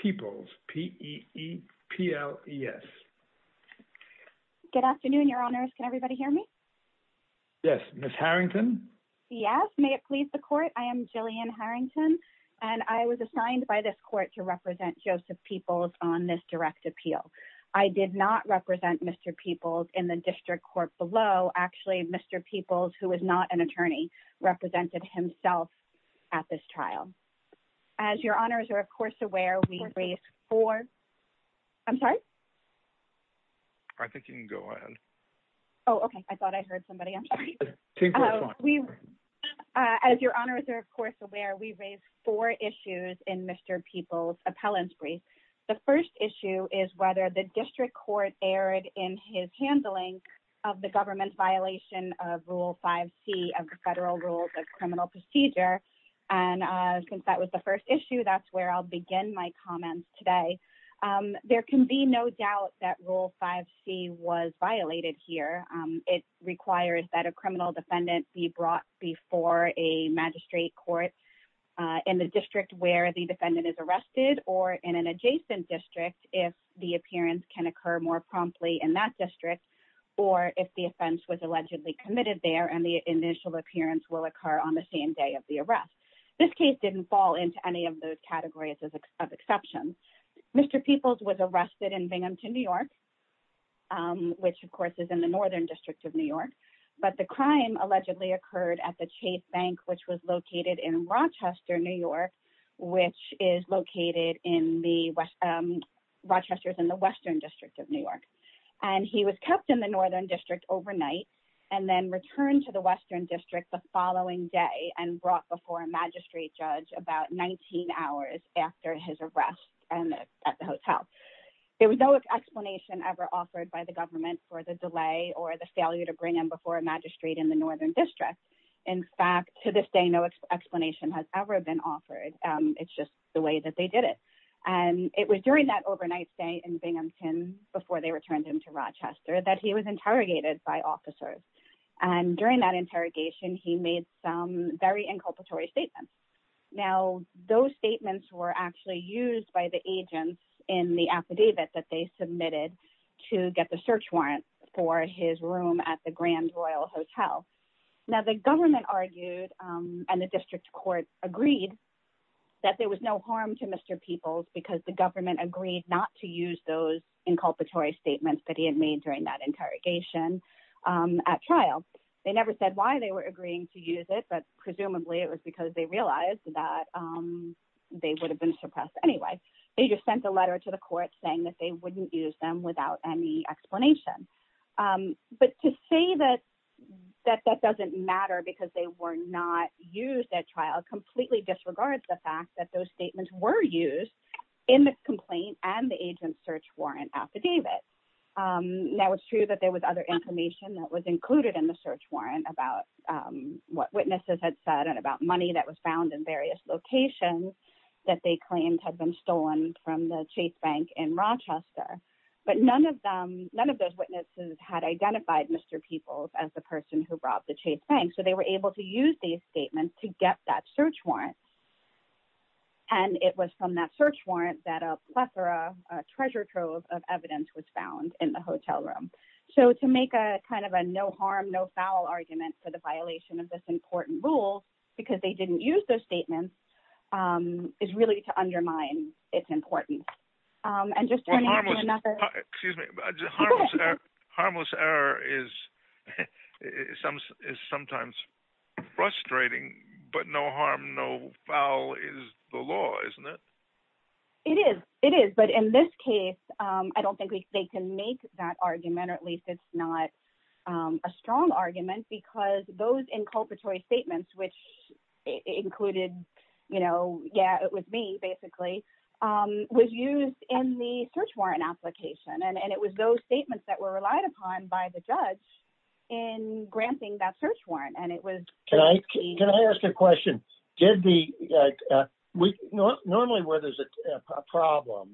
Peoples, P. E. E. P. L. E. S. Good afternoon, your honors. Can everybody hear me? Yes. Ms. Harrington? Yes. May it please the court. I am Jillian Harrington, and I was assigned by this court to represent Joseph Peoples on this direct appeal. I did not represent Mr. Peoples in the district court below. Actually, Mr. Peoples, who is not an attorney, represented himself at this trial. As your honors are, of course, aware, we raised four I'm sorry? I think you can go ahead. Oh, okay. I thought I heard somebody. I'm sorry. As your honors are, of course, aware, we raised four issues in Mr. Peoples' appellant brief. The first issue is whether the district court erred in his handling of the government's violation of Rule 5C of the Federal Rules of Criminal Procedure. And since that was the first issue, that's where I'll begin my comments today. There can be no doubt that Rule 5C was violated here. It requires that a criminal defendant be brought before a magistrate court in the district where the defendant is arrested, or in an adjacent district, if the appearance can occur more promptly in that district, or if the offense was allegedly committed there and the initial appearance will occur on the same day of the arrest. This case didn't fall into any of those categories of exceptions. Mr. Peoples was arrested in Binghamton, New York, which, of course, is in the Northern District of New York. But the crime allegedly occurred at the Chase Bank, which was located in Rochester, New York, which is located in the Western District of New York. And he was kept in the Northern District overnight, and then returned to the Western District the following day and brought before a magistrate judge about 19 hours after his arrest at the hotel. There was no explanation ever offered by the government for the delay or the failure to bring him before a magistrate in the Northern District. In fact, to this day, no explanation has ever been offered. It's just the way that they did it. And it was during that overnight stay in Binghamton, before they returned him to Rochester, that he was interrogated by officers. And during that interrogation, he made some very inculpatory statements. Now, those statements were actually used by the agents in the affidavit that they submitted to get the search warrant for his room at the Grand Royal Hotel. Now, the government argued, and the district court agreed, that there was no harm to Mr. Peoples because the government agreed not to use those inculpatory statements that he had made during that interrogation at trial. They never said why they were agreeing to use it, but presumably it was because they realized that they would have been suppressed anyway. They just sent a letter to the court saying that they wouldn't use them without any explanation. But to say that that doesn't matter because they were not used at trial completely disregards the fact that those statements were used in the complaint and the agent's search warrant affidavit. Now, it's true that there was other information that was included in the search warrant about what witnesses had said and about money that was found in various locations that they claimed had been stolen from the Chase Bank in Rochester. But none of them, none of those witnesses, had identified Mr. Peoples as the person who robbed the Chase Bank. So they were able to use these statements to get that search warrant. And it was from that search warrant that a plethora, a treasure trove of evidence was found in the hotel room. So to make a kind of a no harm, no foul argument for the violation of this important rule because they didn't use those it's important. And just turning to another... Excuse me. Harmless error is sometimes frustrating, but no harm, no foul is the law, isn't it? It is. It is. But in this case, I don't think they can make that argument, or at least it's not a strong argument because those inculpatory statements, which included, you know, yeah, it was me basically, was used in the search warrant application. And it was those statements that were relied upon by the judge in granting that search warrant. And it was... Can I ask a question? Normally where there's a problem,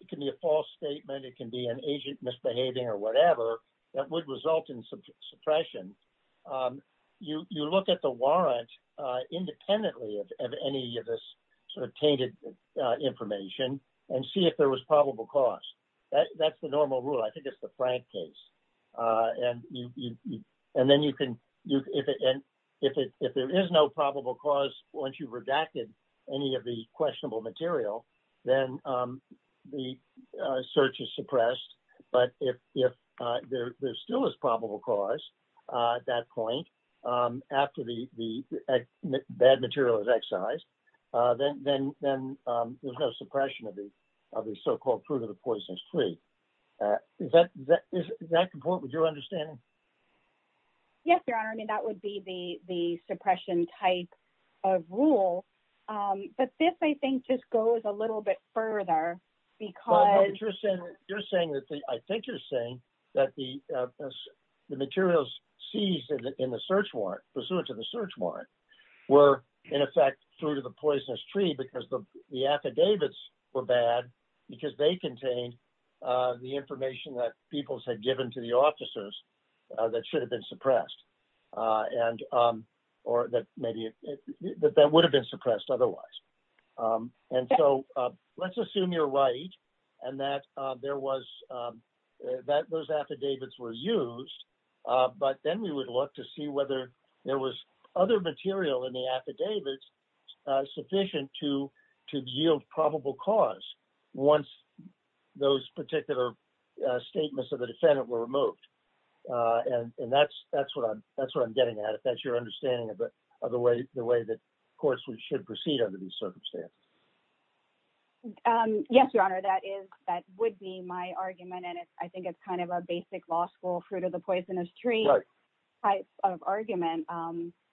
it can be a false statement, it can be an agent misbehaving or whatever, that would result in suppression. You look at the sort of tainted information and see if there was probable cause. That's the normal rule. I think it's the Frank case. And then you can... And if there is no probable cause, once you've redacted any of the questionable material, then the search is suppressed. But if there still is probable cause at that point, after the bad material is excised, then there's no suppression of the so-called fruit of the poisonous tree. Is that what you're understanding? Yes, Your Honor. I mean, that would be the suppression type of rule. But this, I think, just goes a little bit further because... You're saying that the... I think you're saying that the materials seized in the search warrant, pursuant to the search warrant, were, in effect, fruit of the poisonous tree because the affidavits were bad because they contained the information that peoples had given to the officers that should have been suppressed or that maybe... That would have been suppressed otherwise. And so let's assume you're right and that those affidavits were used. But then we would look to see whether there was other material in the affidavits sufficient to yield probable cause once those particular statements of the defendant were removed. And that's what I'm getting at. If that's your understanding of the way that courts should proceed under these circumstances. Yes, Your Honor. That would be my argument. And I think it's kind of a basic law school fruit of the poisonous tree type of argument.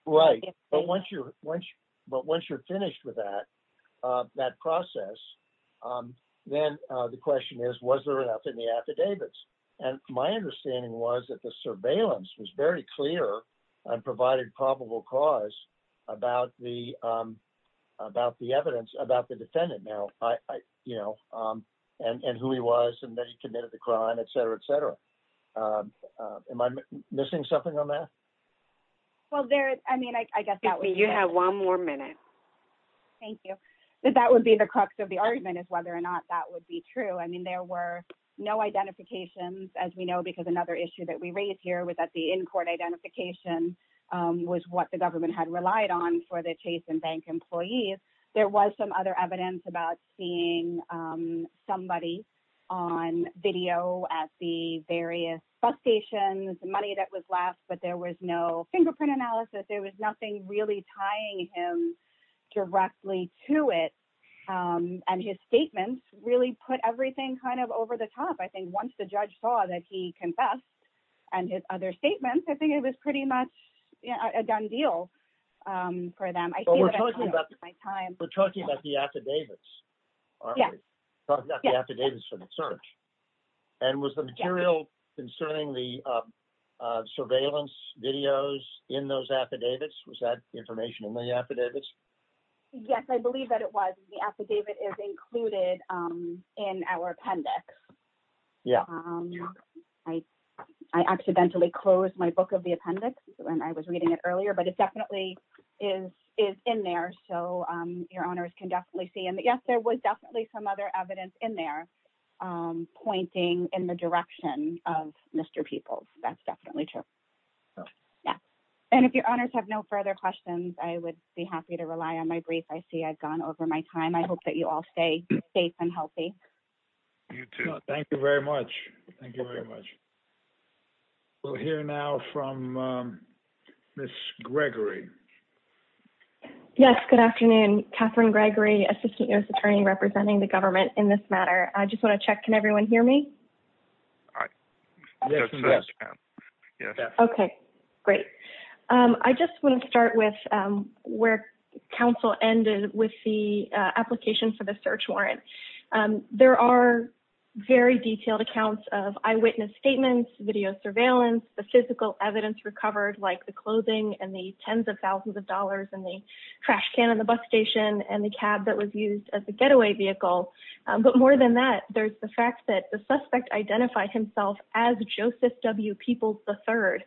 Right. But once you're finished with that process, then the question is, was there enough in the affidavits? And my understanding was that surveillance was very clear and provided probable cause about the evidence about the defendant now and who he was and that he committed the crime, et cetera, et cetera. Am I missing something on that? Well, I mean, I guess that would be... You have one more minute. Thank you. But that would be the crux of the argument is whether or not that would be true. I mean, there were no identifications, as we know, because another issue that we raised here was that the in-court identification was what the government had relied on for the Chase and Bank employees. There was some other evidence about seeing somebody on video at the various bus stations, money that was left, but there was no fingerprint analysis. There was nothing really tying him to it. And his statements really put everything kind of over the top. I think once the judge saw that he confessed and his other statements, I think it was pretty much a done deal for them. But we're talking about the affidavits, aren't we? Talking about the affidavits for the search. And was the material concerning the surveillance videos in those affidavits, was that information in the affidavits? Yes, I believe that it was. The affidavit is included in our appendix. I accidentally closed my book of the appendix when I was reading it earlier, but it definitely is in there. So your honors can definitely see. And yes, there was definitely some other evidence in there pointing in the direction of Mr. Peoples. That's definitely true. And if your honors have no further questions, I would be happy to rely on my brief. I see I've gone over my time. I hope that you all stay safe and healthy. You too. Thank you very much. Thank you very much. We'll hear now from Ms. Gregory. Yes, good afternoon. Catherine Gregory, Assistant U.S. Attorney representing the government in this matter. I just want to check, can everyone hear me? Okay, great. I just want to start with where counsel ended with the application for the search warrant. There are very detailed accounts of eyewitness statements, video surveillance, the physical evidence recovered, like the clothing and the tens of thousands of dollars in the trash can on the bus station and the cab that was used as a getaway vehicle. But more than that, there's the fact that the suspect identified himself as Joseph W. Peoples III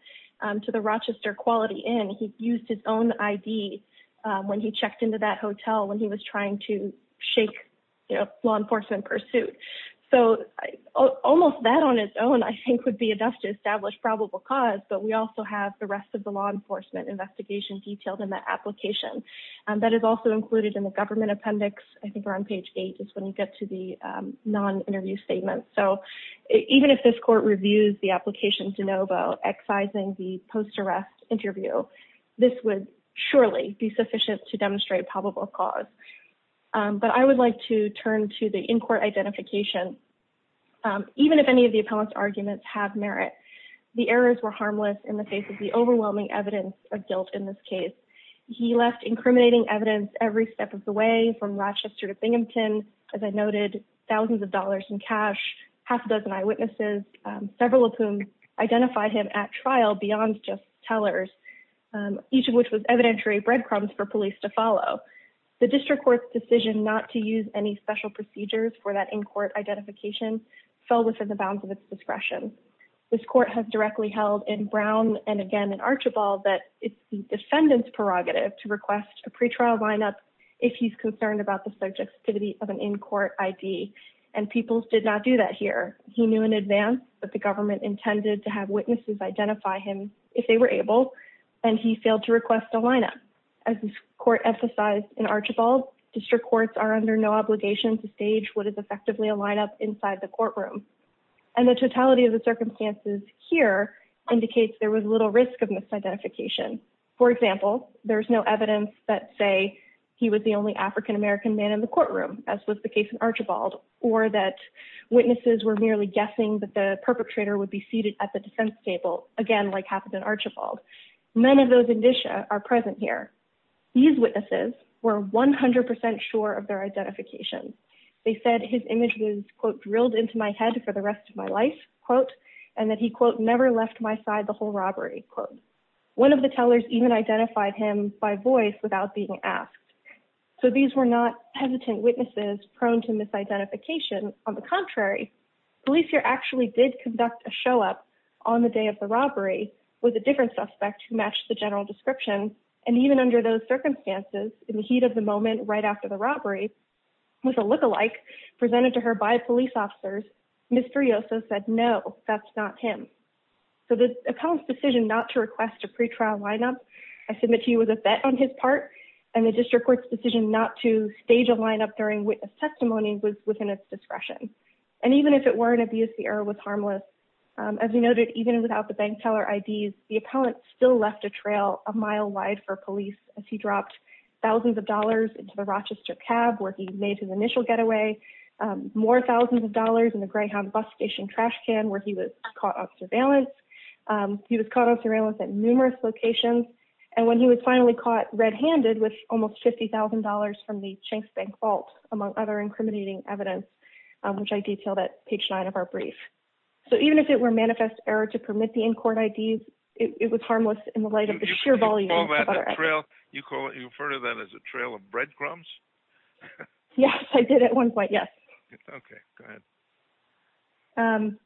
to the Rochester Quality Inn. He used his own ID when he checked into that hotel when he was trying to shake law enforcement pursuit. So almost that on its own, I think, would be enough to establish probable cause. But we also have the rest of the law enforcement investigation detailed in that application. That is also included in the government appendix. I think we're on page eight is when you get to the non-interview statement. So even if this court reviews the application de novo, excising the post-arrest interview, this would surely be sufficient to demonstrate probable cause. But I would like to turn to the in-court identification. Even if any of the appellant's arguments have merit, the errors were harmless in the face of the overwhelming evidence of guilt in this case. He left incriminating evidence every step of the way from Rochester to Binghamton, as I noted, thousands of dollars in cash, half a dozen eyewitnesses, several of whom identified him at trial beyond just tellers, each of which was evidentiary breadcrumbs for police to follow. The district court's decision not to use any special procedures for that in-court identification fell within the bounds of its discretion. This court has directly held in Brown and again in Archibald that it's the defendant's prerogative to request a pretrial lineup if he's concerned about the subjectivity of an in-court ID, and Peoples did not do that here. He knew in advance that the government intended to have witnesses identify him if they were able, and he failed to request a lineup. As this court emphasized in Archibald, district courts are under no obligation to stage what is effectively a lineup inside the courtroom. And the totality of the circumstances here indicates there was little risk of misidentification. For example, there's no evidence that say he was the only African American man in the courtroom, as was the case in Archibald, or that witnesses were merely guessing that the perpetrator would be seated at the defense table, again like happened in Archibald. None of those indicia are present here. These witnesses were 100% sure of their identification. They said his image was, quote, drilled into my head for the rest of my life, quote, and that he, quote, never left my side the whole robbery, quote. One of the tellers even identified him by voice without being asked. So these were not hesitant witnesses prone to misidentification. On the contrary, police here actually did conduct a show-up on the day of the robbery with a different suspect who matched the general description, and even under those circumstances, in the heat of the moment right after the robbery, with a look-alike presented to her by police officers, Mr. Riosa said, no, that's not him. So the appellant's decision not to request a pretrial lineup, I submit he was a vet on his part, and the district court's decision not to stage a lineup during witness testimony was within its discretion. And even if it were an abuse, the error was harmless. As we noted, even without the bank teller IDs, the appellant still left a trail a mile wide for police as he dropped thousands of dollars into the Rochester cab where he made his initial getaway, more thousands of dollars in the Greyhound bus station trash can where he was caught on surveillance. He was caught on surveillance at numerous locations, and when he was finally caught red-handed with almost $50,000 from the Shanks Bank vault, among other incriminating evidence, which I detailed at page 9 of our brief. So even if it were manifest error to permit the in-court IDs, it was harmless in the light of the sheer volume. You refer to that as a trail of breadcrumbs? Yes, I did at one point, yes. Okay, go ahead.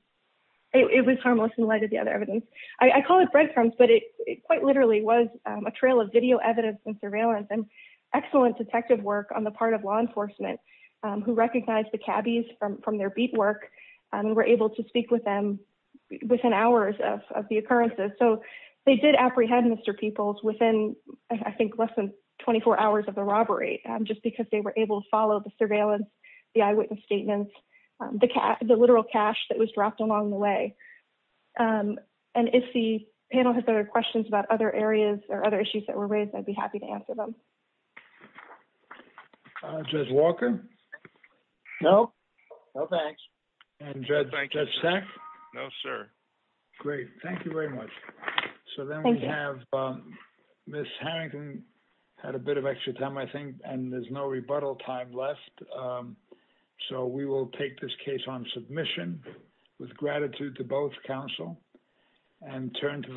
It was harmless in light of the other evidence. I call it breadcrumbs, but it quite literally was a trail of video evidence and surveillance and excellent detective work on the part of law enforcement who recognized the cabbies from their beat work and were able to speak with them within hours of the occurrences. So they did apprehend Mr. Peoples within, I think, less than 24 hours of the robbery, just because they were able to follow the surveillance, the eyewitness statements, the literal cash that was dropped along the way. And if the panel has other questions about other areas or other issues that were raised, I'd be happy to answer them. Judge Walker? No, no thanks. And Judge Sack? No, sir. Great. Thank you very much. So then we have, Ms. Harrington had a bit of extra time, I think, and there's no rebuttal time left. So we will take this case on submission with gratitude to both counsel and turn to the-